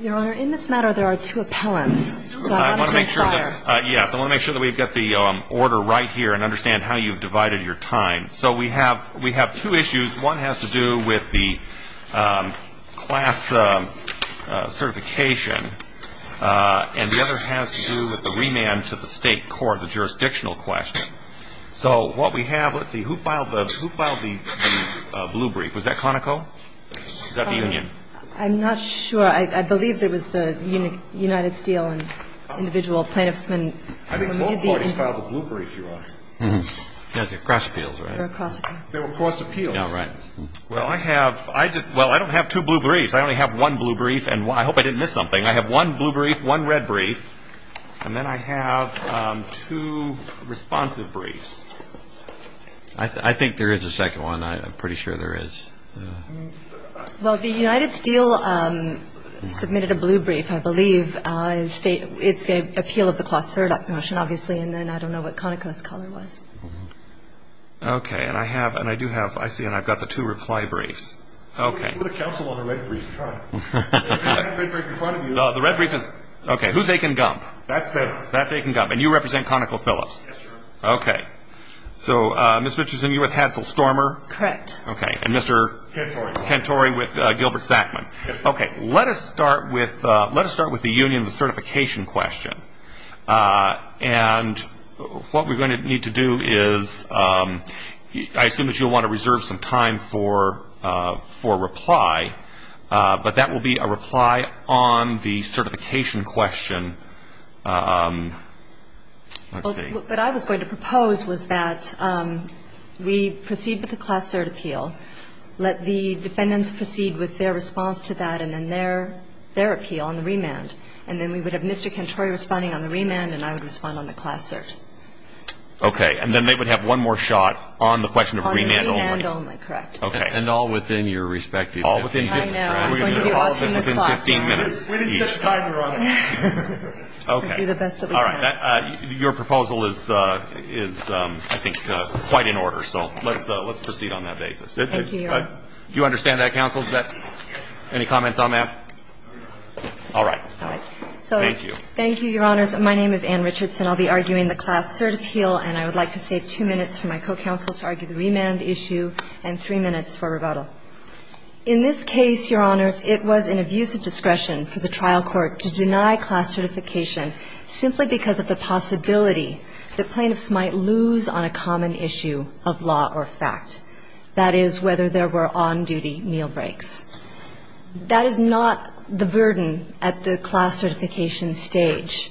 Your Honor, in this matter there are two appellants. So I want to make sure that we've got the order right here and understand how you've divided your time. So we have two issues. One has to do with the class certification and the other has to do with the remand to the state court, the jurisdictional question. So what we have, let's see, who filed the blue brief? Was that Conoco? Was that the union? I'm not sure. I believe it was the United Steel and individual plaintiffsmen. I think both parties filed the blue brief, Your Honor. Yes, they're cross appeals, right? They were cross appeals. Well, I don't have two blue briefs. I only have one blue brief, and I hope I didn't miss something. I have one blue brief, one red brief, and then I have two responsive briefs. I think there is a second one. I'm pretty sure there is. Well, the United Steel submitted a blue brief, I believe. It's the appeal of the class cert motion, obviously, and then I don't know what Conoco's color was. Okay. And I do have, I see, and I've got the two reply briefs. Okay. Who are the counsel on the red brief, Your Honor? The red brief in front of you. The red brief is, okay, who's Akin Gump? That's Akin Gump. That's Akin Gump. And you represent Conoco Phillips. Yes, Your Honor. Okay. So Ms. Richardson, you're with Hansel Stormer. Correct. Okay. And Mr. Kentory with Gilbert Sackman. Okay. Let us start with the union certification question, and what we're going to need to do is I assume that you'll want to reserve some time for reply, but that will be a reply on the certification question. Let's see. What I was going to propose was that we proceed with the class cert appeal, let the defendants proceed with their response to that, and then their appeal on the remand. And then we would have Mr. Kentory responding on the remand, and I would respond on the class cert. Okay. And then they would have one more shot on the question of remand only. On remand only, correct. Okay. And all within your respective 15 minutes, right? I know. I'm going to be watching the clock. All within 15 minutes. We didn't set a timer on it. Okay. We'll do the best that we can. All right. Your proposal is, I think, quite in order, so let's proceed on that basis. Thank you, Your Honor. Do you understand that, counsel? Any comments on that? All right. Thank you. Thank you, Your Honors. My name is Ann Richardson. I'll be arguing the class cert appeal, and I would like to save two minutes for my co-counsel to argue the remand issue and three minutes for rebuttal. In this case, Your Honors, it was an abuse of discretion for the trial court to deny class certification simply because of the possibility that plaintiffs might lose on a common issue of law or fact, that is, whether there were on-duty meal breaks. That is not the burden at the class certification stage.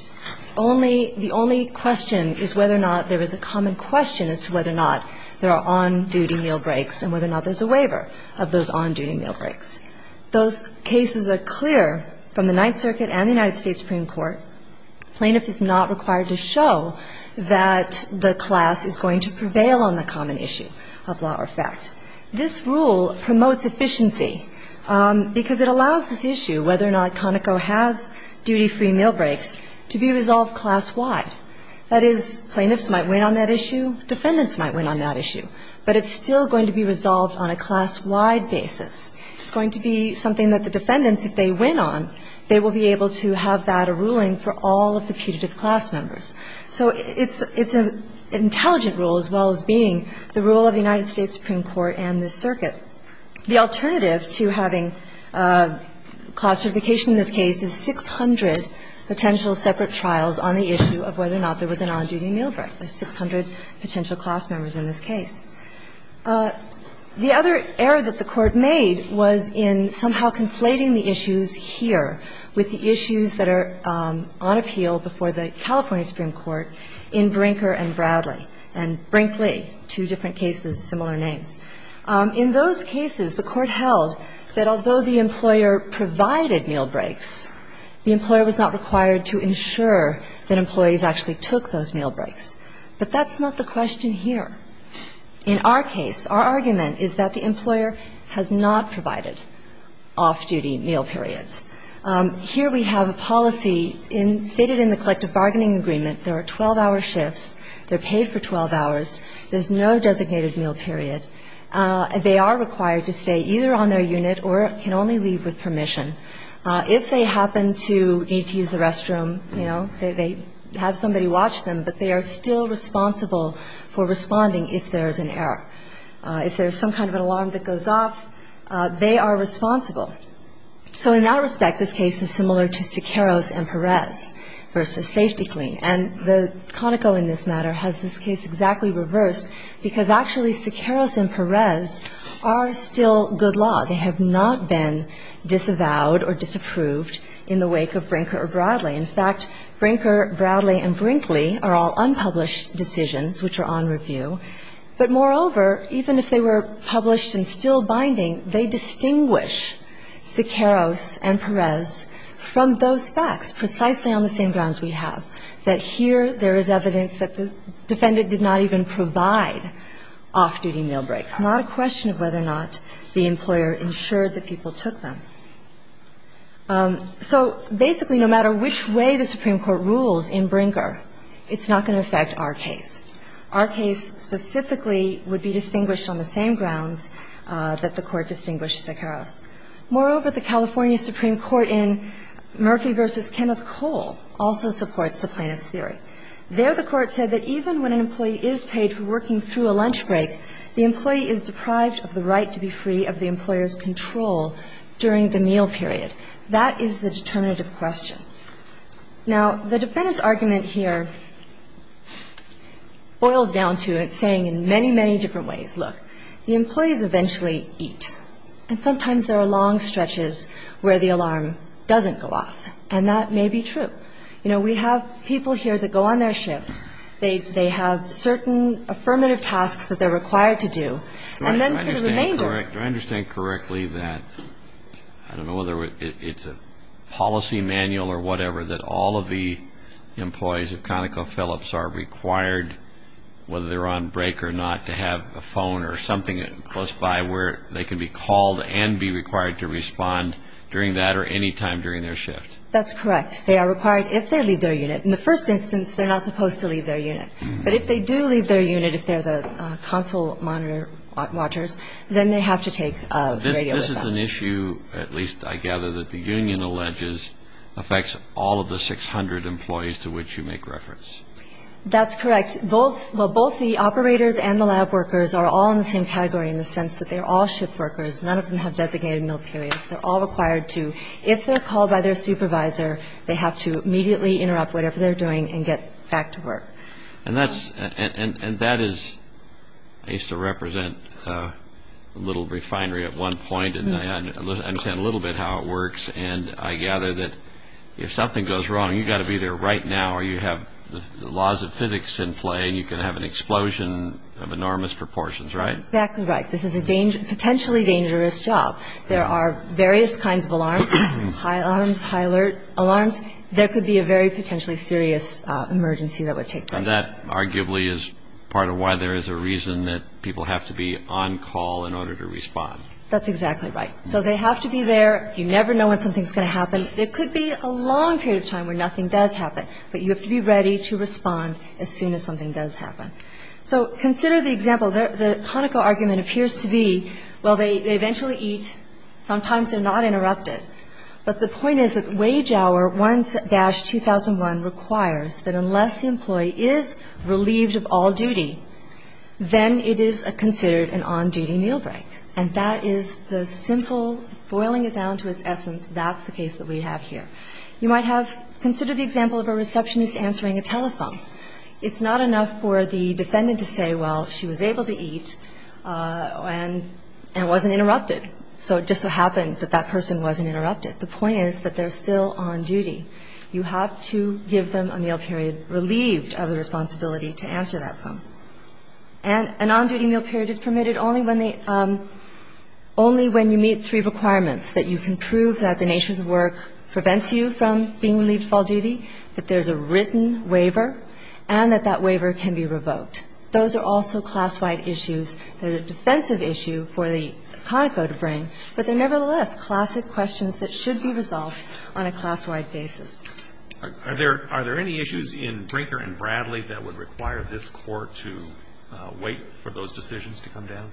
Only the only question is whether or not there is a common question as to whether or not there are on-duty meal breaks and whether or not there's a waiver of those on-duty meal breaks. Those cases are clear from the Ninth Circuit and the United States Supreme Court. Plaintiff is not required to show that the class is going to prevail on the common issue of law or fact. This rule promotes efficiency because it allows this issue, whether or not Conoco has duty-free meal breaks, to be resolved class-wide. That is, plaintiffs might win on that issue, defendants might win on that issue, but it's still going to be resolved on a class-wide basis. It's going to be something that the defendants, if they win on, they will be able to have that a ruling for all of the putative class members. So it's an intelligent rule, as well as being the rule of the United States Supreme Court and this circuit. The alternative to having class certification in this case is 600 potential separate trials on the issue of whether or not there was an on-duty meal break. There's 600 potential class members in this case. The other error that the Court made was in somehow conflating the issues here with the issues that are on appeal before the California Supreme Court in Brinker and Bradley and Brinkley, two different cases, similar names. In those cases, the Court held that although the employer provided meal breaks, the employer was not required to ensure that employees actually took those meal breaks. But that's not the question here. In our case, our argument is that the employer has not provided off-duty meal periods. Here we have a policy stated in the collective bargaining agreement. There are 12-hour shifts. They're paid for 12 hours. There's no designated meal period. They are required to stay either on their unit or can only leave with permission. If they happen to need to use the restroom, you know, they have somebody watch them, but they are still responsible for responding if there's an error. If there's some kind of an alarm that goes off, they are responsible. So in that respect, this case is similar to Sequeiros and Perez v. Safety Clean. And the Conoco in this matter has this case exactly reversed because actually Sequeiros and Perez are still good law. They have not been disavowed or disapproved in the wake of Brinker or Bradley. In fact, Brinker, Bradley, and Brinkley are all unpublished decisions which are on review. But moreover, even if they were published and still binding, they distinguish Sequeiros and Perez from those facts precisely on the same grounds we have, that here there is evidence that the defendant did not even provide off-duty meal breaks, not a question of whether or not the employer ensured that people took them. So basically, no matter which way the Supreme Court rules in Brinker, it's not going to affect our case. Our case specifically would be distinguished on the same grounds that the Court distinguished Sequeiros. Moreover, the California Supreme Court in Murphy v. Kenneth Cole also supports the plaintiff's theory. There the Court said that even when an employee is paid for working through a lunch break, the employee is deprived of the right to be free of the employer's control during the meal period. That is the determinative question. Now, the defendant's argument here boils down to it saying in many, many different ways, look, the employees eventually eat. And sometimes there are long stretches where the alarm doesn't go off. And that may be true. You know, we have people here that go on their ship. They have certain affirmative tasks that they're required to do. And then for the remainder. Do I understand correctly that, I don't know whether it's a policy manual or whatever, that all of the employees of ConocoPhillips are required, whether they're on break or not, to have a phone or something close by where they can be called and be required to respond during that or any time during their shift? That's correct. They are required if they leave their unit. In the first instance, they're not supposed to leave their unit. But if they do leave their unit, if they're the console monitor watchers, then they have to take a radio or something. This is an issue, at least I gather, that the union alleges affects all of the 600 employees to which you make reference. That's correct. Both the operators and the lab workers are all in the same category in the sense that they're all shift workers. None of them have designated meal periods. They're all required to, if they're called by their supervisor, they have to immediately interrupt whatever they're doing and get back to work. And that is, I used to represent a little refinery at one point, and I understand a little bit how it works. And I gather that if something goes wrong, you've got to be there right now or you have the laws of physics in play and you can have an explosion of enormous proportions, right? That's exactly right. This is a potentially dangerous job. There are various kinds of alarms, high alarms, high alert alarms. There could be a very potentially serious emergency that would take place. And that arguably is part of why there is a reason that people have to be on call in order to respond. That's exactly right. So they have to be there. You never know when something's going to happen. There could be a long period of time where nothing does happen, but you have to be ready to respond as soon as something does happen. So consider the example. The conical argument appears to be, well, they eventually eat. Sometimes they're not interrupted. But the point is that wage hour 1-2001 requires that unless the employee is relieved of all duty, then it is considered an on-duty meal break. And that is the simple, boiling it down to its essence, that's the case that we have here. You might have considered the example of a receptionist answering a telephone. It's not enough for the defendant to say, well, she was able to eat and it wasn't interrupted. So it just so happened that that person wasn't interrupted. The point is that they're still on duty. You have to give them a meal period relieved of the responsibility to answer that phone. And an on-duty meal period is permitted only when they – only when you meet three requirements, that you can prove that the nature of the work prevents you from being relieved of all duty, that there's a written waiver, and that that waiver can be revoked. Those are also class-wide issues. They're a defensive issue for the Conoco to bring, but they're nevertheless classic questions that should be resolved on a class-wide basis. Are there any issues in Brinker and Bradley that would require this Court to wait for those decisions to come down?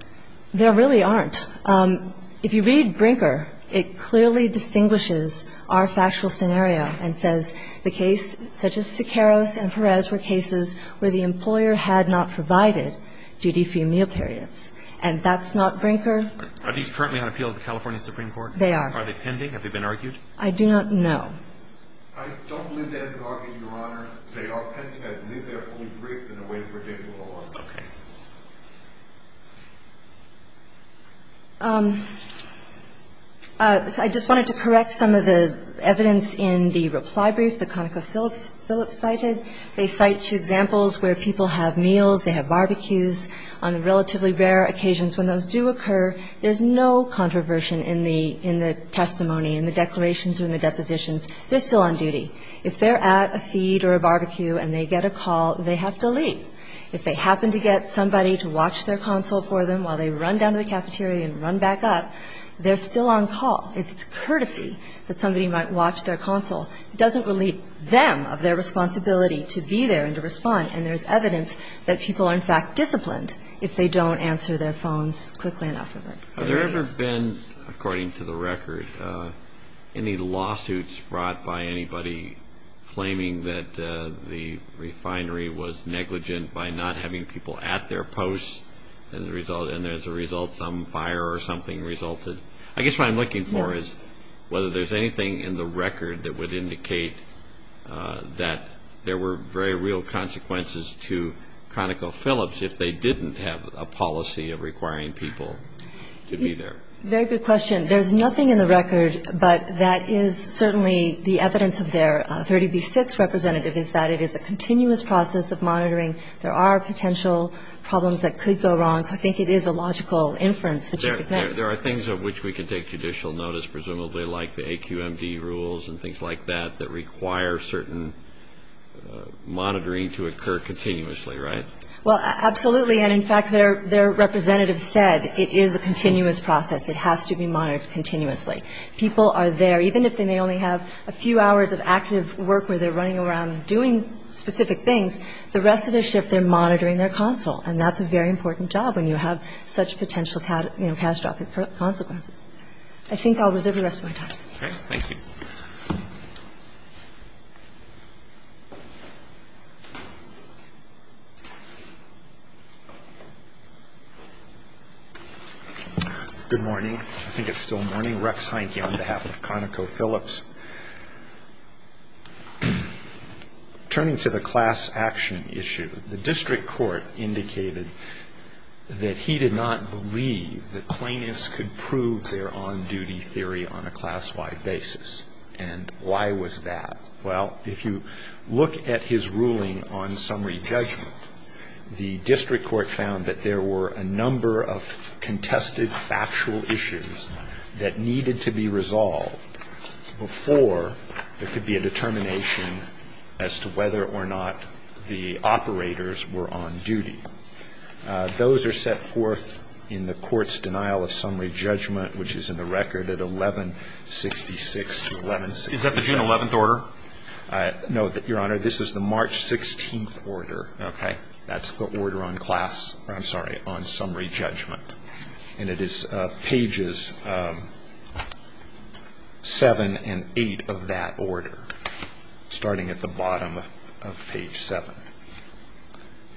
There really aren't. If you read Brinker, it clearly distinguishes our factual scenario and says the case such as Siqueiros and Perez were cases where the employer had not provided duty-free meal periods. And that's not Brinker. Are these currently on appeal to the California Supreme Court? They are. Are they pending? Have they been argued? I do not know. I don't believe they have been argued, Your Honor. They are pending. I believe they are only briefed in a way to predict the law. Okay. I just wanted to correct some of the evidence in the reply brief that ConocoPhillips cited. They cite two examples where people have meals, they have barbecues on relatively rare occasions. When those do occur, there's no controversy in the testimony, in the declarations or in the depositions. They're still on duty. If they're at a feed or a barbecue and they get a call, they have to leave. If they happen to get somebody to watch their console for them while they run down to the cafeteria and run back up, they're still on call. It's courtesy that somebody might watch their console. It doesn't relieve them of their responsibility to be there and to respond. And there's evidence that people are, in fact, disciplined if they don't answer their phones quickly enough. Have there ever been, according to the record, any lawsuits brought by anybody claiming that the refinery was negligent by not having people at their posts and as a result some fire or something resulted? I guess what I'm looking for is whether there's anything in the record that would indicate that there were very real consequences to ConocoPhillips if they didn't have a policy of requiring people to be there. Very good question. There's nothing in the record, but that is certainly the evidence of their 30b-6 representative, is that it is a continuous process of monitoring. There are potential problems that could go wrong. So I think it is a logical inference that you could make. There are things of which we could take judicial notice, presumably like the AQMD rules and things like that that require certain monitoring to occur continuously, right? Well, absolutely. And, in fact, their representative said it is a continuous process. It has to be monitored continuously. People are there, even if they may only have a few hours of active work where they're running around doing specific things, the rest of their shift they're monitoring their console. And that's a very important job when you have such potential catastrophic consequences. I think I'll reserve the rest of my time. Okay. Thank you. Good morning. I think it's still morning. Rex Heineke on behalf of ConocoPhillips. Turning to the class action issue, the district court indicated that he did not believe that plaintiffs could prove their on-duty theory on a class-wide basis. And why was that? Well, if you look at his ruling on summary judgment, the district court found that there were a number of contested factual issues that needed to be resolved before there could be a determination as to whether or not the operators were on duty. Those are set forth in the court's denial of summary judgment, which is in the record at 1166 to 1166. Is that the June 11th order? No, Your Honor. This is the March 16th order. Okay. That's the order on class or, I'm sorry, on summary judgment. And it is pages 7 and 8 of that order, starting at the bottom of page 7.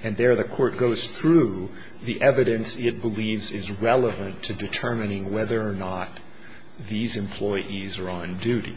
And there the court goes through the evidence it believes is relevant to determining whether or not these employees are on duty.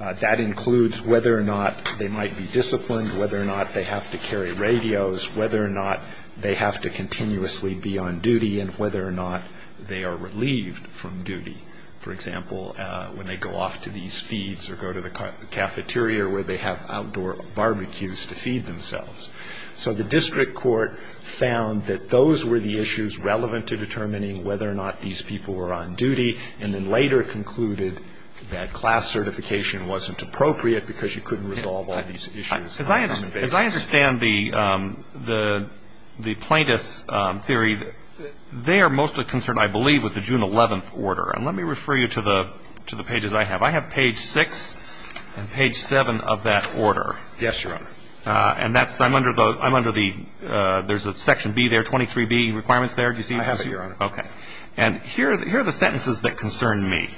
That includes whether or not they might be disciplined, whether or not they have to carry radios, whether or not they have to continuously be on duty, and whether or not they are relieved from duty. For example, when they go off to these feeds or go to the cafeteria where they have outdoor barbecues to feed themselves. So the district court found that those were the issues relevant to determining whether or not these people were on duty, and then later concluded that class certification wasn't appropriate because you couldn't resolve all these issues on an invasive basis. As I understand the plaintiff's theory, they are mostly concerned, I believe, with the June 11th order. And let me refer you to the pages I have. I have page 6 and page 7 of that order. Yes, Your Honor. And that's, I'm under the, there's a section B there, 23B requirements there. Do you see those? I have it, Your Honor. Okay. And here are the sentences that concern me.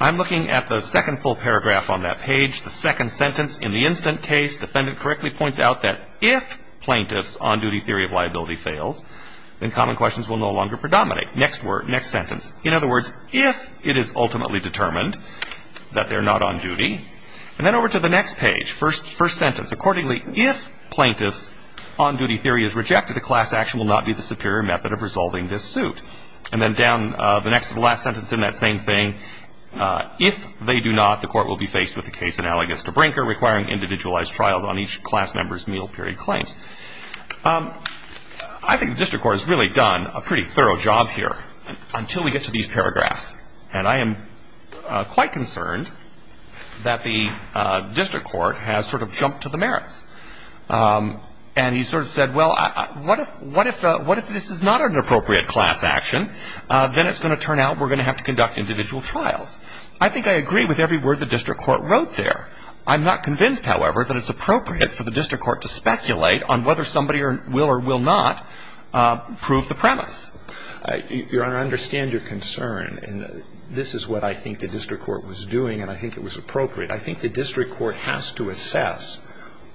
I'm looking at the second full paragraph on that page, the second sentence, in the instant case, defendant correctly points out that if plaintiff's on-duty theory of liability fails, then common questions will no longer predominate. Next sentence. In other words, if it is ultimately determined that they're not on duty. And then over to the next page, first sentence. Accordingly, if plaintiff's on-duty theory is rejected, a class action will not be the superior method of resolving this suit. And then down the next to the last sentence in that same thing, if they do not, the court will be faced with a case analogous to Brinker requiring individualized trials on each class member's meal period claims. I think the district court has really done a pretty thorough job here. Until we get to these paragraphs. And I am quite concerned that the district court has sort of jumped to the merits. And he sort of said, well, what if this is not an appropriate class action? Then it's going to turn out we're going to have to conduct individual trials. I think I agree with every word the district court wrote there. I'm not convinced, however, that it's appropriate for the district court to speculate on whether somebody will or will not prove the premise. Your Honor, I understand your concern. And this is what I think the district court was doing, and I think it was appropriate. I think the district court has to assess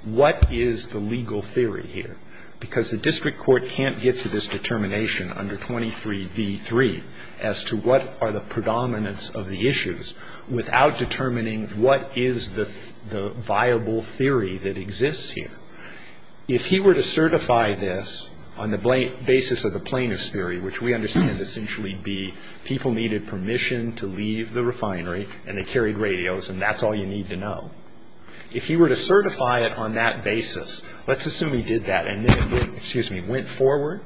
what is the legal theory here. Because the district court can't get to this determination under 23b-3 as to what are the predominance of the issues without determining what is the viable theory that exists here. If he were to certify this on the basis of the plaintiff's theory, which we understand essentially would be people needed permission to leave the refinery and they carried radios and that's all you need to know. If he were to certify it on that basis, let's assume he did that and then, excuse me, went forward,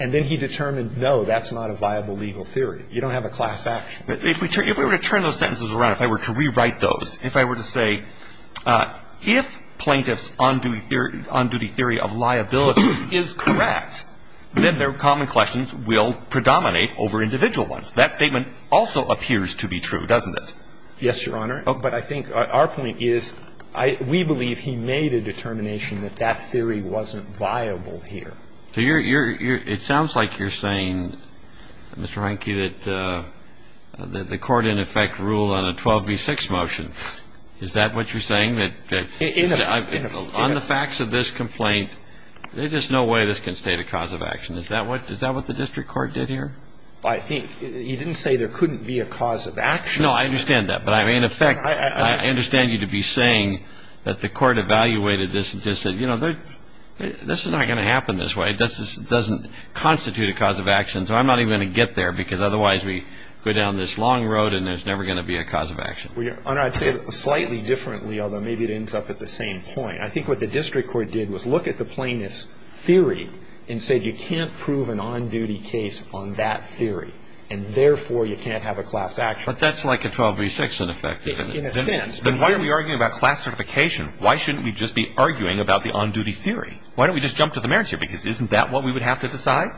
and then he determined, no, that's not a viable legal theory. You don't have a class action. If we were to turn those sentences around, if I were to rewrite those, if I were to say if plaintiff's on-duty theory of liability is correct, then their common questions will predominate over individual ones. That statement also appears to be true, doesn't it? Yes, Your Honor. But I think our point is we believe he made a determination that that theory wasn't viable here. It sounds like you're saying, Mr. Reinke, that the court in effect ruled on a 12b-6 motion. Is that what you're saying? On the facts of this complaint, there's just no way this can state a cause of action. Is that what the district court did here? I think. You didn't say there couldn't be a cause of action. No, I understand that. But I mean, in effect, I understand you to be saying that the court evaluated this and just said, you know, this is not going to happen this way. It doesn't constitute a cause of action, so I'm not even going to get there because otherwise we go down this long road and there's never going to be a cause of action. Your Honor, I'd say it slightly differently, although maybe it ends up at the same point. I think what the district court did was look at the plaintiff's theory and said you can't prove an on-duty case on that theory, and therefore you can't have a class action. But that's like a 12b-6 in effect, isn't it? In a sense. Then why are we arguing about class certification? Why shouldn't we just be arguing about the on-duty theory? Why don't we just jump to the merits here? Because isn't that what we would have to decide?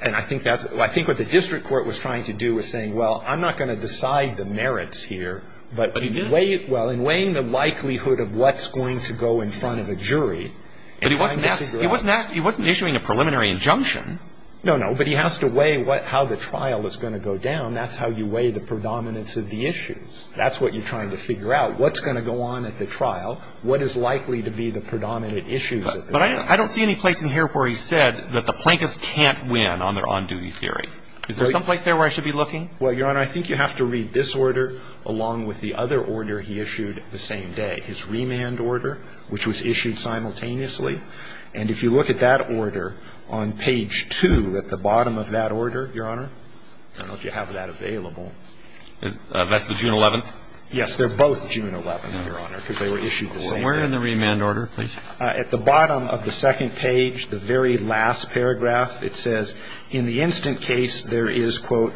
And I think that's what the district court was trying to do was saying, well, I'm not going to decide the merits here, but in weighing the likelihood of what's going to go in front of a jury. But he wasn't issuing a preliminary injunction. No, no. But he has to weigh how the trial is going to go down. That's how you weigh the predominance of the issues. That's what you're trying to figure out. What's going to go on at the trial? What is likely to be the predominant issues? But I don't see any place in here where he said that the plaintiffs can't win on their on-duty theory. Is there someplace there where I should be looking? Well, Your Honor, I think you have to read this order along with the other order he issued the same day, his remand order, which was issued simultaneously. And if you look at that order on page 2 at the bottom of that order, Your Honor, I don't know if you have that available. That's the June 11th? Yes. They're both June 11th, Your Honor, because they were issued the same day. Where in the remand order, please? At the bottom of the second page, the very last paragraph, it says, In the instant case, there is, quote,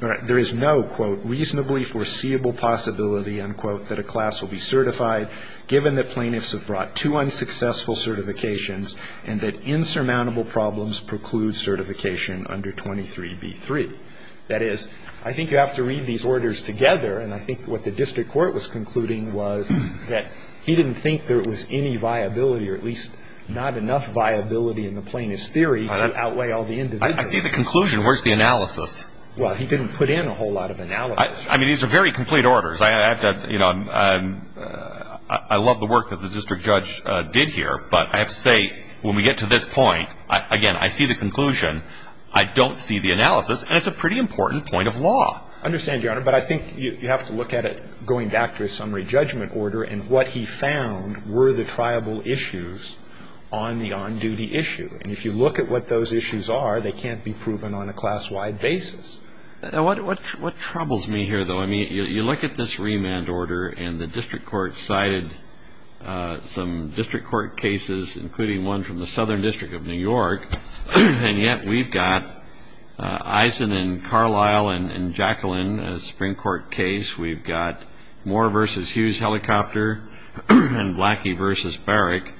there is no, quote, reasonably foreseeable possibility, unquote, that a class will be certified, given that plaintiffs have brought two unsuccessful certifications and that insurmountable problems preclude certification under 23b-3. That is, I think you have to read these orders together, and I think what the district court was concluding was that he didn't think there was any viability, or at least not enough viability in the plaintiff's theory to outweigh all the individual. I see the conclusion. Where's the analysis? Well, he didn't put in a whole lot of analysis. I mean, these are very complete orders. I love the work that the district judge did here, but I have to say, when we get to this point, again, I see the conclusion. I don't see the analysis, and it's a pretty important point of law. I understand, Your Honor, but I think you have to look at it going back to his summary judgment order and what he found were the triable issues on the on-duty issue. And if you look at what those issues are, they can't be proven on a class-wide basis. What troubles me here, though, I mean, you look at this remand order, and the district court cited some district court cases, including one from the Southern District of New York, and yet we've got Eisen and Carlisle and Jacqueline, a Supreme Court case. We've got Moore v. Hughes-Helicopter and Blackie v. Barrick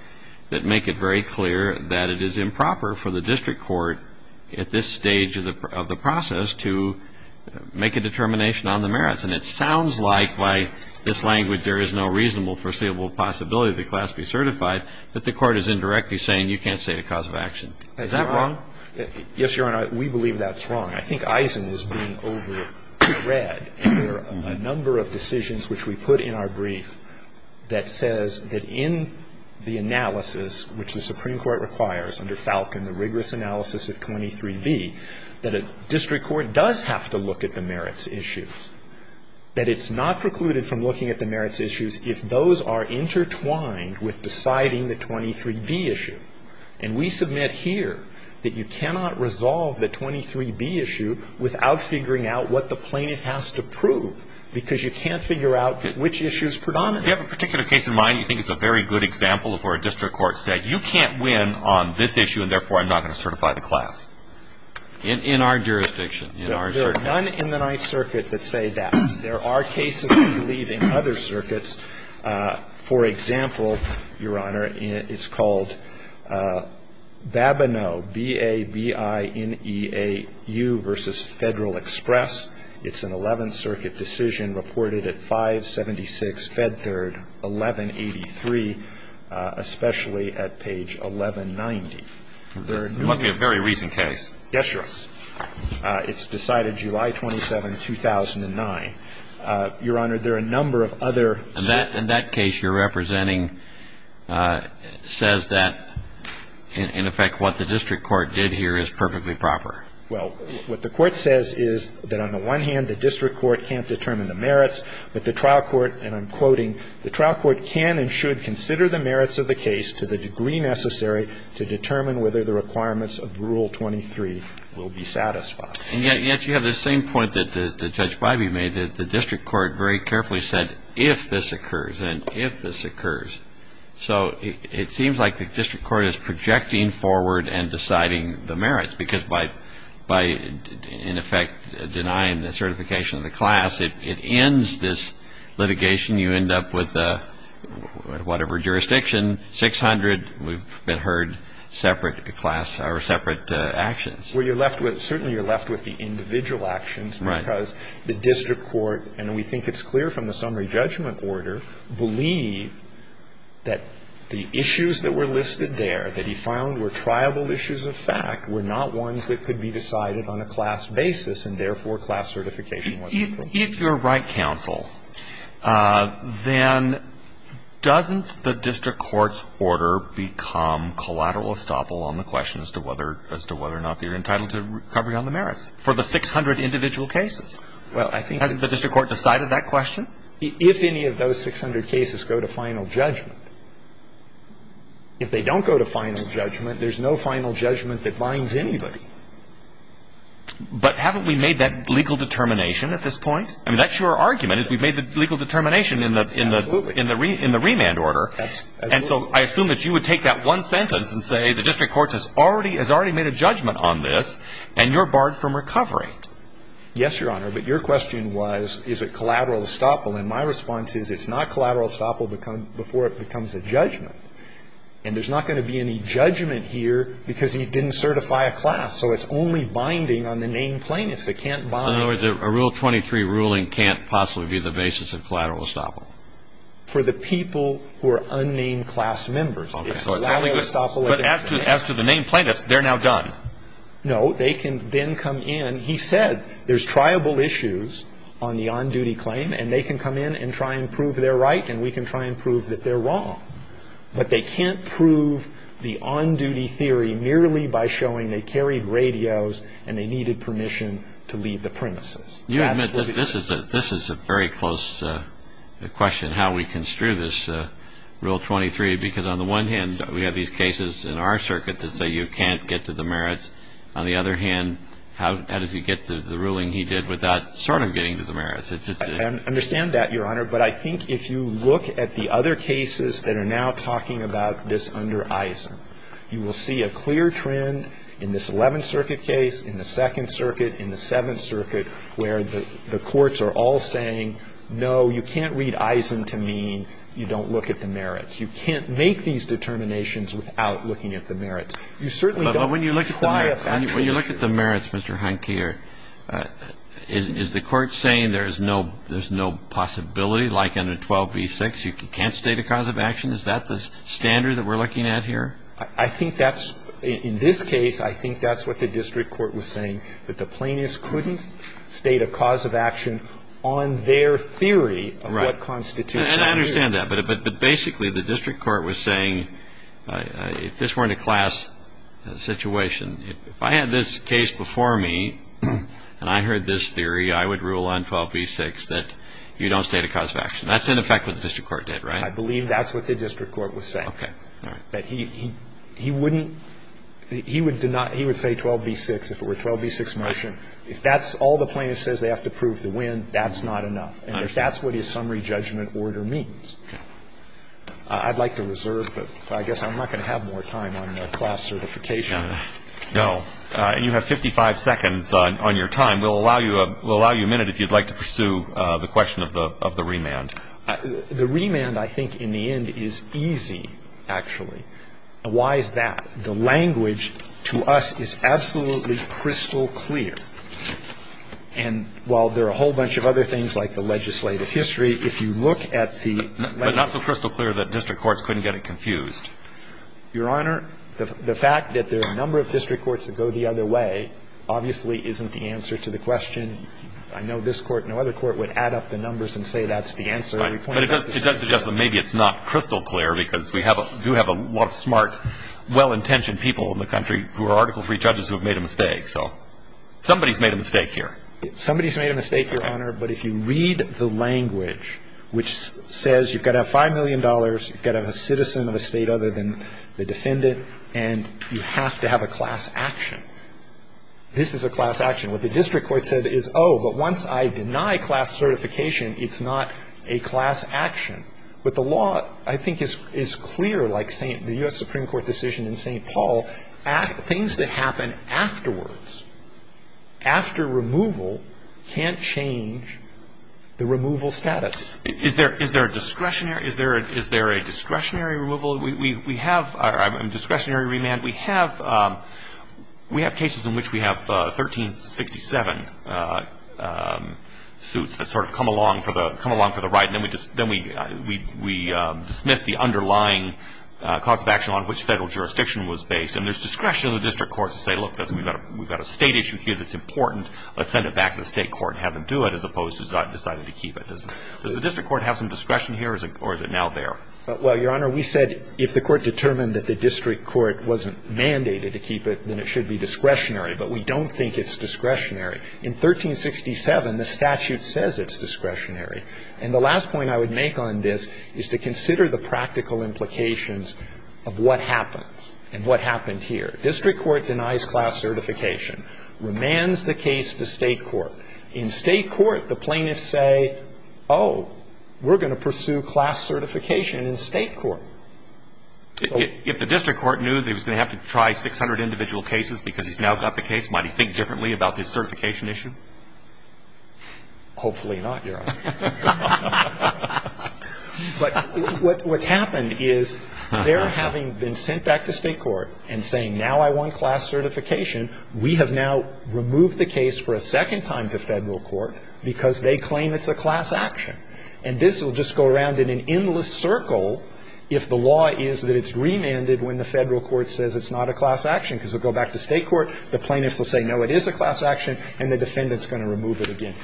that make it very clear that it is improper for the district court at this stage of the process to make a determination on the merits. And it sounds like, by this language, there is no reasonable foreseeable possibility that the class be certified, but the court is indirectly saying you can't state a cause of action. Is that wrong? Yes, Your Honor. We believe that's wrong. I think Eisen was being over-read. There are a number of decisions which we put in our brief that says that in the analysis, which the Supreme Court requires under Falcon, the rigorous analysis of 23b, that a district court does have to look at the merits issues, that it's not precluded from looking at the merits issues if those are intertwined with deciding the 23b issue. And we submit here that you cannot resolve the 23b issue without figuring out what the plaintiff has to prove because you can't figure out which issue is predominant. You have a particular case in mind, you think it's a very good example of where a district court said, you can't win on this issue and, therefore, I'm not going to certify the class. In our jurisdiction. There are none in the Ninth Circuit that say that. There are cases, we believe, in other circuits. For example, Your Honor, it's called Babineau, B-A-B-I-N-E-A-U v. Federal Express. It's an Eleventh Circuit decision reported at 576 Fed Third, 1183, especially at page 1190. There are no other cases. It must be a very recent case. Yes, Your Honor. It's decided July 27, 2009. Your Honor, there are a number of other circuits. And that case you're representing says that, in effect, what the district court did here is perfectly proper. Well, what the court says is that, on the one hand, the district court can't determine the merits, but the trial court, and I'm quoting, the trial court can and should consider the merits of the case to the degree necessary to determine whether the requirements of Rule 23 will be satisfied. And yet you have the same point that Judge Biby made, that the district court very carefully said, if this occurs and if this occurs. So it seems like the district court is projecting forward and deciding the merits, because by, in effect, denying the certification of the class, it ends this litigation. You end up with whatever jurisdiction, 600, we've been heard, separate actions. Well, you're left with, certainly you're left with the individual actions. Right. Because the district court, and we think it's clear from the summary judgment order, believe that the issues that were listed there, that he found were triable issues of fact, were not ones that could be decided on a class basis, and therefore class certification was appropriate. If you're right, counsel, then doesn't the district court's order become collateral as to whether or not you're entitled to recovery on the merits for the 600 individual cases? Well, I think the district court decided that question. If any of those 600 cases go to final judgment, if they don't go to final judgment, there's no final judgment that binds anybody. But haven't we made that legal determination at this point? I mean, that's your argument, is we've made the legal determination in the remand order. And so I assume that you would take that one sentence and say the district court has already made a judgment on this, and you're barred from recovery. Yes, Your Honor, but your question was, is it collateral estoppel? And my response is it's not collateral estoppel before it becomes a judgment. And there's not going to be any judgment here because he didn't certify a class, so it's only binding on the named plaintiffs. They can't bind. In other words, a Rule 23 ruling can't possibly be the basis of collateral estoppel. For the people who are unnamed class members, it's collateral estoppel. But as to the named plaintiffs, they're now done. No, they can then come in. He said there's triable issues on the on-duty claim, and they can come in and try and prove they're right, and we can try and prove that they're wrong. But they can't prove the on-duty theory merely by showing they carried radios and they needed permission to leave the premises. You admit that this is a very close question, how we construe this Rule 23, because on the one hand, we have these cases in our circuit that say you can't get to the merits. On the other hand, how does he get to the ruling he did without sort of getting to the merits? I understand that, Your Honor, but I think if you look at the other cases that are now talking about this under Eisen, you will see a clear trend in this Eleventh Circuit, in the Seventh Circuit, where the courts are all saying, no, you can't read Eisen to mean you don't look at the merits. You can't make these determinations without looking at the merits. You certainly don't apply a factual measure. But when you look at the merits, Mr. Heinke, is the court saying there's no possibility like under 12b-6, you can't state a cause of action? Is that the standard that we're looking at here? I think that's, in this case, I think that's what the district court was saying, that the plaintiffs couldn't state a cause of action on their theory of what constitutes a merit. Right. And I understand that. But basically, the district court was saying if this weren't a class situation, if I had this case before me and I heard this theory, I would rule on 12b-6 that you don't state a cause of action. That's in effect what the district court did, right? I believe that's what the district court was saying. All right. But he wouldn't, he would say 12b-6 if it were a 12b-6 motion. If that's all the plaintiff says they have to prove to win, that's not enough. And if that's what his summary judgment order means. Okay. I'd like to reserve, but I guess I'm not going to have more time on class certification. No. And you have 55 seconds on your time. We'll allow you a minute if you'd like to pursue the question of the remand. The remand, I think, in the end is easy, actually. Why is that? The language to us is absolutely crystal clear. And while there are a whole bunch of other things like the legislative history, if you look at the legislative history. But not so crystal clear that district courts couldn't get it confused. Your Honor, the fact that there are a number of district courts that go the other way obviously isn't the answer to the question. I know this Court and no other Court would add up the numbers and say that's the answer. Right. But it does suggest that maybe it's not crystal clear because we do have a lot of smart, well-intentioned people in the country who are Article III judges who have made a mistake. So somebody's made a mistake here. Somebody's made a mistake, Your Honor. But if you read the language, which says you've got to have $5 million, you've got to have a citizen of the State other than the defendant, and you have to have a class action. This is a class action. What the district court said is, oh, but once I deny class certification, it's not a class action. But the law, I think, is clear, like the U.S. Supreme Court decision in St. Paul. Things that happen afterwards, after removal, can't change the removal status. Is there a discretionary removal? We have a discretionary remand. We have cases in which we have 1367 suits that sort of come along for the right, and then we dismiss the underlying cause of action on which Federal jurisdiction was based. And there's discretion in the district court to say, look, we've got a State issue here that's important. Let's send it back to the State court and have them do it, as opposed to deciding to keep it. Does the district court have some discretion here, or is it now there? Well, Your Honor, we said if the court determined that the district court wasn't mandated to keep it, then it should be discretionary. But we don't think it's discretionary. In 1367, the statute says it's discretionary. And the last point I would make on this is to consider the practical implications of what happens and what happened here. District court denies class certification, remands the case to State court. In State court, the plaintiffs say, oh, we're going to pursue class certification in State court. If the district court knew they were going to have to try 600 individual cases because he's now got the case, might he think differently about this certification issue? Hopefully not, Your Honor. But what's happened is they're having been sent back to State court and saying, now I want class certification. We have now removed the case for a second time to Federal court because they claim it's a class action. And this will just go around in an endless circle if the law is that it's remanded when the Federal court says it's not a class action, because it will go back to State court, the plaintiffs will say, no, it is a class action, and the defendant is going to remove it again.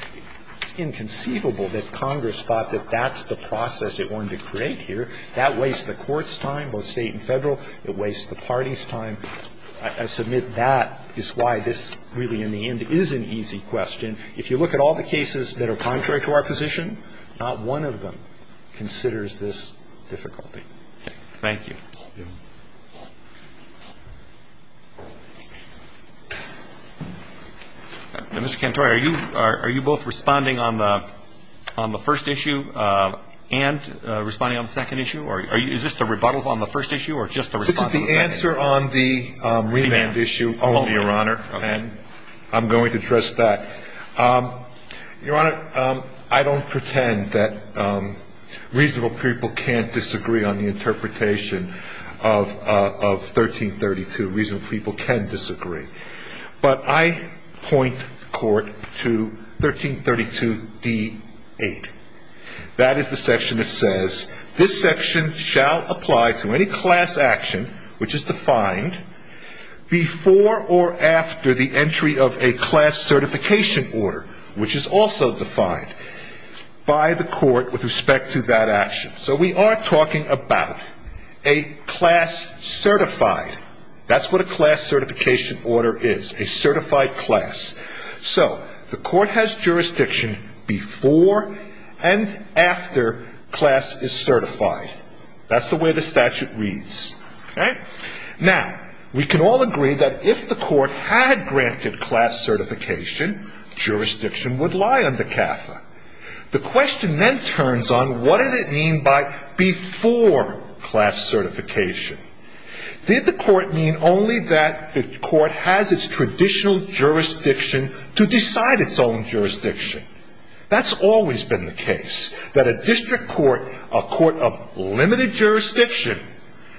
It's inconceivable that Congress thought that that's the process it wanted to create here. That wastes the court's time, both State and Federal. It wastes the party's time. And I submit that is why this really, in the end, is an easy question. If you look at all the cases that are contrary to our position, not one of them considers this difficulty. Thank you. Mr. Cantori, are you both responding on the first issue and responding on the second issue? Or is this the rebuttal on the first issue or just the response on the second issue? This is the answer on the remand issue only, Your Honor. Okay. And I'm going to address that. Your Honor, I don't pretend that reasonable people can't disagree on the interpretation of 1332. Reasonable people can disagree. But I point the Court to 1332d-8. That is the section that says this section shall apply to any class action, which is defined, before or after the entry of a class certification order, which is also defined by the Court with respect to that action. So we are talking about a class certified. That's what a class certification order is, a certified class. So the Court has jurisdiction before and after class is certified. That's the way the statute reads. Okay? Now, we can all agree that if the Court had granted class certification, jurisdiction would lie under CAFA. The question then turns on what did it mean by before class certification. Did the Court mean only that the Court has its traditional jurisdiction to decide its own jurisdiction? That's always been the case. That a district court, a court of limited jurisdiction,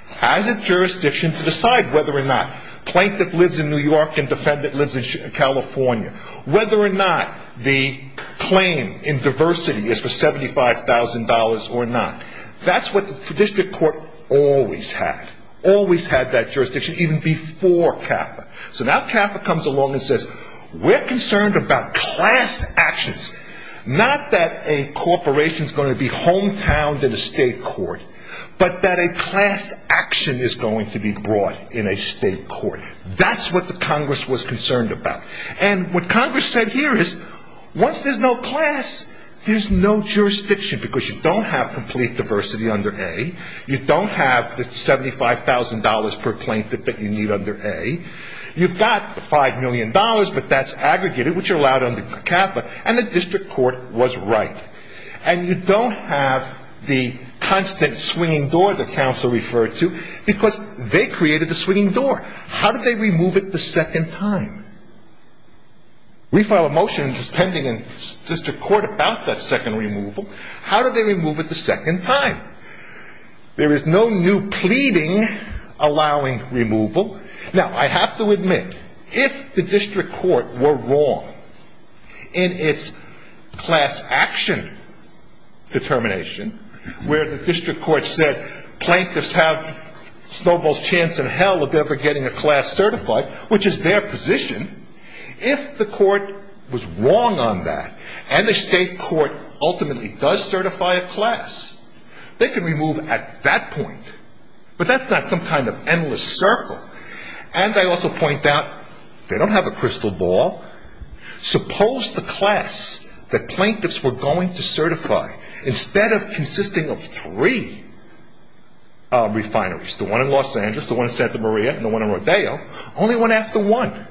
has a jurisdiction to decide whether or not plaintiff lives in New York and defendant lives in California. Whether or not the claim in diversity is for $75,000 or not. That's what the district court always had. Always had that jurisdiction, even before CAFA. So now CAFA comes along and says, we're concerned about class actions. Not that a corporation is going to be hometowned in a state court, but that a class action is going to be brought in a state court. That's what the Congress was concerned about. And what Congress said here is, once there's no class, there's no jurisdiction, because you don't have complete diversity under A. You don't have the $75,000 per plaintiff that you need under A. You've got the $5 million, but that's aggregated, which are allowed under CAFA, and the district court was right. And you don't have the constant swinging door that counsel referred to, because they created the swinging door. How did they remove it the second time? We file a motion pending in district court about that second removal. How did they remove it the second time? There is no new pleading allowing removal. Now, I have to admit, if the district court were wrong in its class action determination, where the district court said, plaintiffs have Snowball's chance in hell of ever getting a class certified, which is their position, if the court was wrong on that, and the state court ultimately does certify a class, they can remove at that point. But that's not some kind of endless circle. And I also point out, they don't have a crystal ball. Suppose the class that plaintiffs were going to certify, instead of consisting of three refineries, the one in Los Angeles, the one in Santa Maria, and the one in Rodeo, only went after one.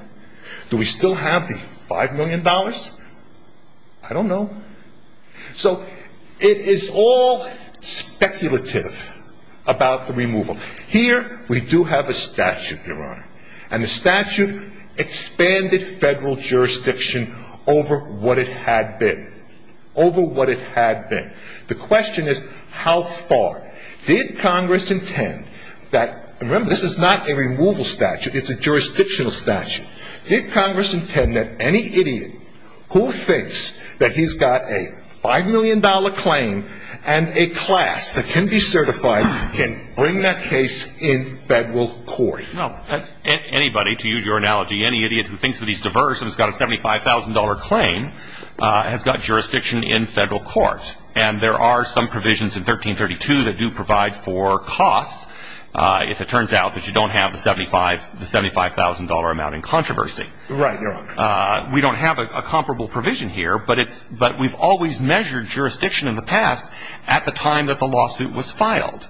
Do we still have the $5 million? I don't know. So, it is all speculative about the removal. Here, we do have a statute, Your Honor. And the statute expanded federal jurisdiction over what it had been. Over what it had been. The question is, how far? Did Congress intend that, remember, this is not a removal statute, it's a jurisdictional statute. Did Congress intend that any idiot who thinks that he's got a $5 million claim and a class that can be certified can bring that case in federal court? Well, anybody, to use your analogy, any idiot who thinks that he's diverse and has got a $75,000 claim has got jurisdiction in federal court. And there are some provisions in 1332 that do provide for costs, if it turns out that you don't have the $75,000 amount in controversy. Right, Your Honor. We don't have a comparable provision here, but we've always measured jurisdiction in the past at the time that the lawsuit was filed.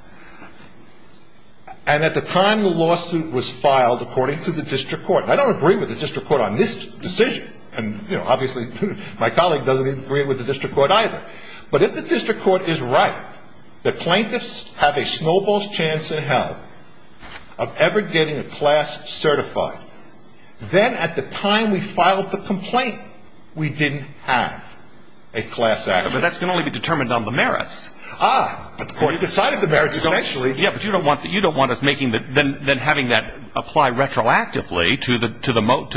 And at the time the lawsuit was filed, according to the district court. I don't agree with the district court on this decision. And, you know, obviously, my colleague doesn't agree with the district court either. But if the district court is right that plaintiffs have a snowball's chance in hell of ever getting a class certified, then at the time we filed the complaint, we didn't have a class action. But that's going to only be determined on the merits. Ah, but the court decided the merits, essentially. Yeah, but you don't want us making that, then having that apply retroactively to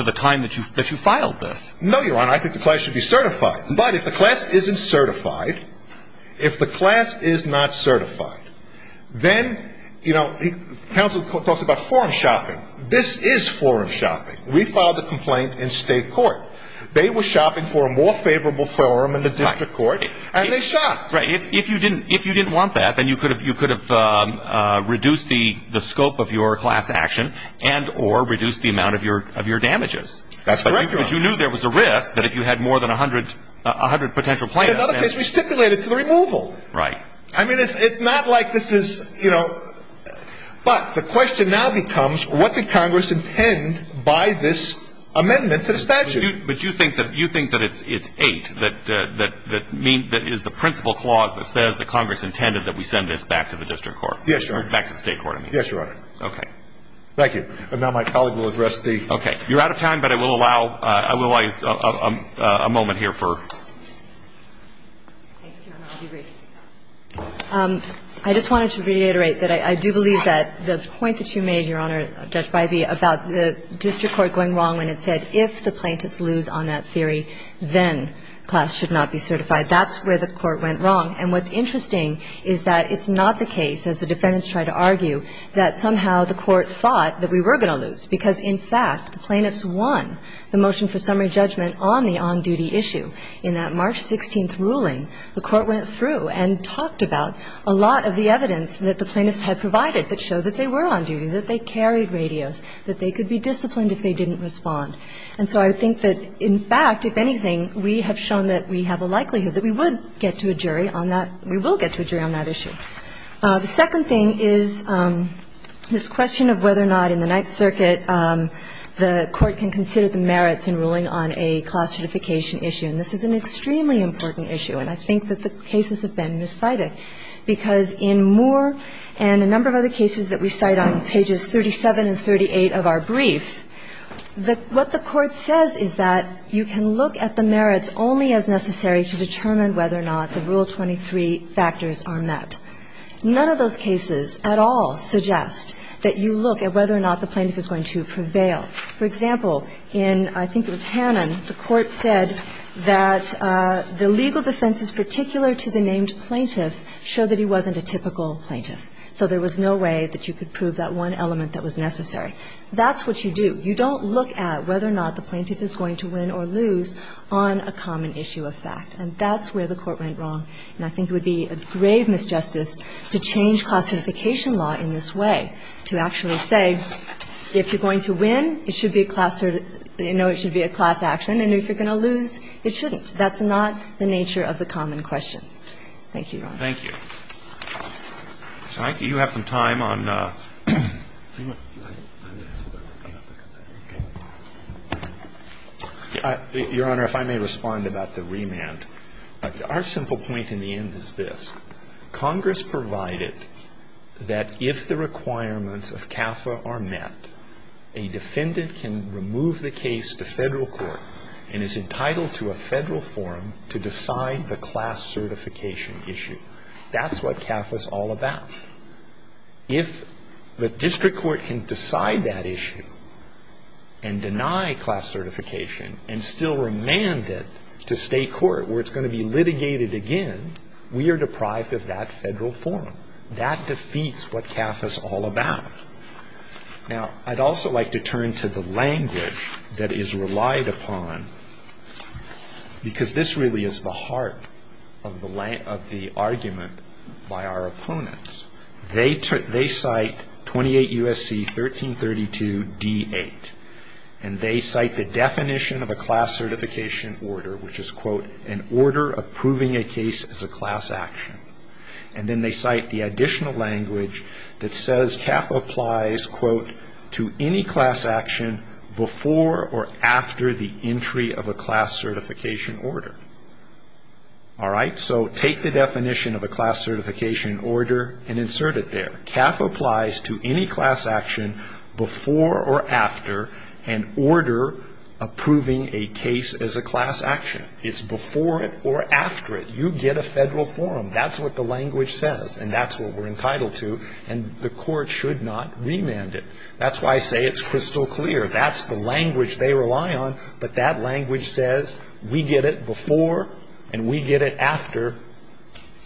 the time that you filed this. No, Your Honor. I think the class should be certified. But if the class isn't certified, if the class is not certified, then, you know, counsel talks about forum shopping. This is forum shopping. We filed the complaint in state court. They were shopping for a more favorable forum in the district court, and they shopped. That's right. If you didn't want that, then you could have reduced the scope of your class action and or reduced the amount of your damages. That's correct, Your Honor. But you knew there was a risk that if you had more than a hundred potential plaintiffs. In another case, we stipulated to the removal. Right. I mean, it's not like this is, you know, but the question now becomes what did Congress intend by this amendment to the statute? But you think that it's 8 that is the principal clause that says that Congress intended that we send this back to the district court? Yes, Your Honor. Back to state court, I mean. Yes, Your Honor. Okay. Thank you. And now my colleague will address the other. Okay. You're out of time, but I will allow a moment here for. I just wanted to reiterate that I do believe that the point that you made, Your Honor, is that if the plaintiffs lose on that theory, then class should not be certified. That's where the Court went wrong. And what's interesting is that it's not the case, as the defendants tried to argue, that somehow the Court thought that we were going to lose because, in fact, the plaintiffs won the motion for summary judgment on the on-duty issue. In that March 16th ruling, the Court went through and talked about a lot of the evidence that the plaintiffs had provided that showed that they were on duty, that they carried radios, that they could be disciplined if they didn't respond. And so I think that, in fact, if anything, we have shown that we have a likelihood that we would get to a jury on that – we will get to a jury on that issue. The second thing is this question of whether or not in the Ninth Circuit the Court can consider the merits in ruling on a class certification issue. And this is an extremely important issue, and I think that the cases have been miscited, because in Moore and a number of other cases that we cite on pages 37 and 38 of our records, what the Court says is that you can look at the merits only as necessary to determine whether or not the Rule 23 factors are met. None of those cases at all suggest that you look at whether or not the plaintiff is going to prevail. For example, in – I think it was Hannon – the Court said that the legal defenses particular to the named plaintiff show that he wasn't a typical plaintiff. So there was no way that you could prove that one element that was necessary. That's what you do. You don't look at whether or not the plaintiff is going to win or lose on a common issue of fact, and that's where the Court went wrong. And I think it would be a grave misjustice to change class certification law in this way, to actually say, if you're going to win, it should be a class – no, it should be a class action, and if you're going to lose, it shouldn't. Thank you, Your Honor. Thank you. So I think you have some time on – Your Honor, if I may respond about the remand. Our simple point in the end is this. Congress provided that if the requirements of CAFA are met, a defendant can remove the case to Federal court and is entitled to a Federal forum to decide the class certification issue. That's what CAFA is all about. If the district court can decide that issue and deny class certification and still remand it to State court where it's going to be litigated again, we are deprived of that Federal forum. That defeats what CAFA is all about. Now, I'd also like to turn to the language that is relied upon, because this really is the heart of the argument by our opponents. They cite 28 U.S.C. 1332d8, and they cite the definition of a class certification order, which is, quote, an order approving a case as a class action. And then they cite the additional language that says CAFA applies, quote, to any class action before or after the entry of a class certification order. All right? So take the definition of a class certification order and insert it there. CAFA applies to any class action before or after an order approving a case as a class action. It's before it or after it. You get a Federal forum. That's what the language says, and that's what we're entitled to, and the court should not remand it. That's why I say it's crystal clear. That's the language they rely on, but that language says we get it before and we get it after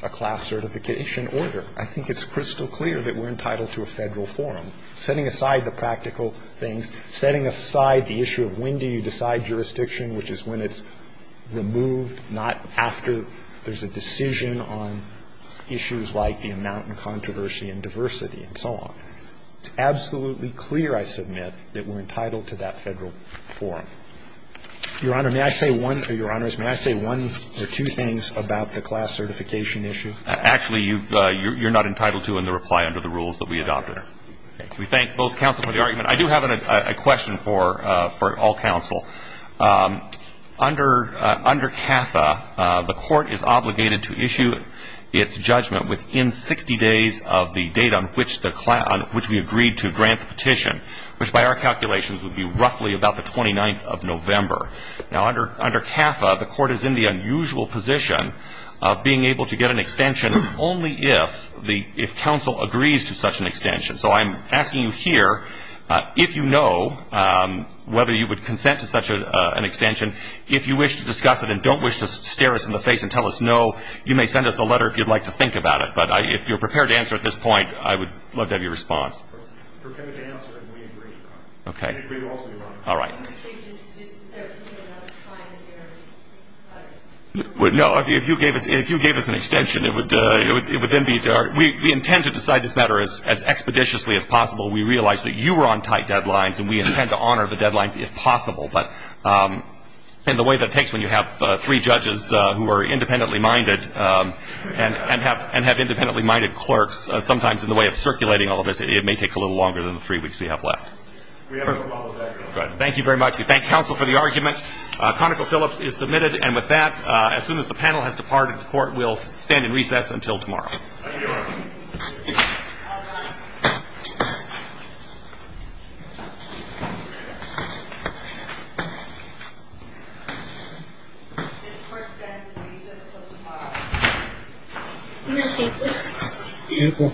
a class certification order. I think it's crystal clear that we're entitled to a Federal forum. Setting aside the practical things, setting aside the issue of when do you decide jurisdiction, which is when it's removed, not after there's a decision on issues like the amount and controversy and diversity and so on. It's absolutely clear, I submit, that we're entitled to that Federal forum. Your Honor, may I say one or two things about the class certification issue? Actually, you're not entitled to in the reply under the rules that we adopted. We thank both counsel for the argument. I do have a question for all counsel. Under CAFA, the court is obligated to issue its judgment within 60 days of the date on which we agreed to grant the petition, which by our calculations would be roughly about the 29th of November. Now, under CAFA, the court is in the unusual position of being able to get an extension only if counsel agrees to such an extension. So I'm asking you here, if you know whether you would consent to such an extension, if you wish to discuss it and don't wish to stare us in the face and tell us no, you may send us a letter if you'd like to think about it. But if you're prepared to answer at this point, I would love to have your response. We're prepared to answer, and we agree. Okay. We agree to all three of them. All right. Is there a point in time that you're going to say no? No. If you gave us an extension, it would then be our – we intend to decide this matter as expeditiously as possible. We realize that you were on tight deadlines, and we intend to honor the deadlines if possible. But in the way that it takes when you have three judges who are independently minded and have independently minded clerks, sometimes in the way of circulating all of this, it may take a little longer than the three weeks we have left. We have no problem with that. Good. Thank you very much. We thank counsel for the argument. ConocoPhillips is submitted. And with that, as soon as the panel has departed, the Court will stand in recess until tomorrow. Thank you, Your Honor. All rise. This Court stands in recess until tomorrow. Thank you. Beautiful.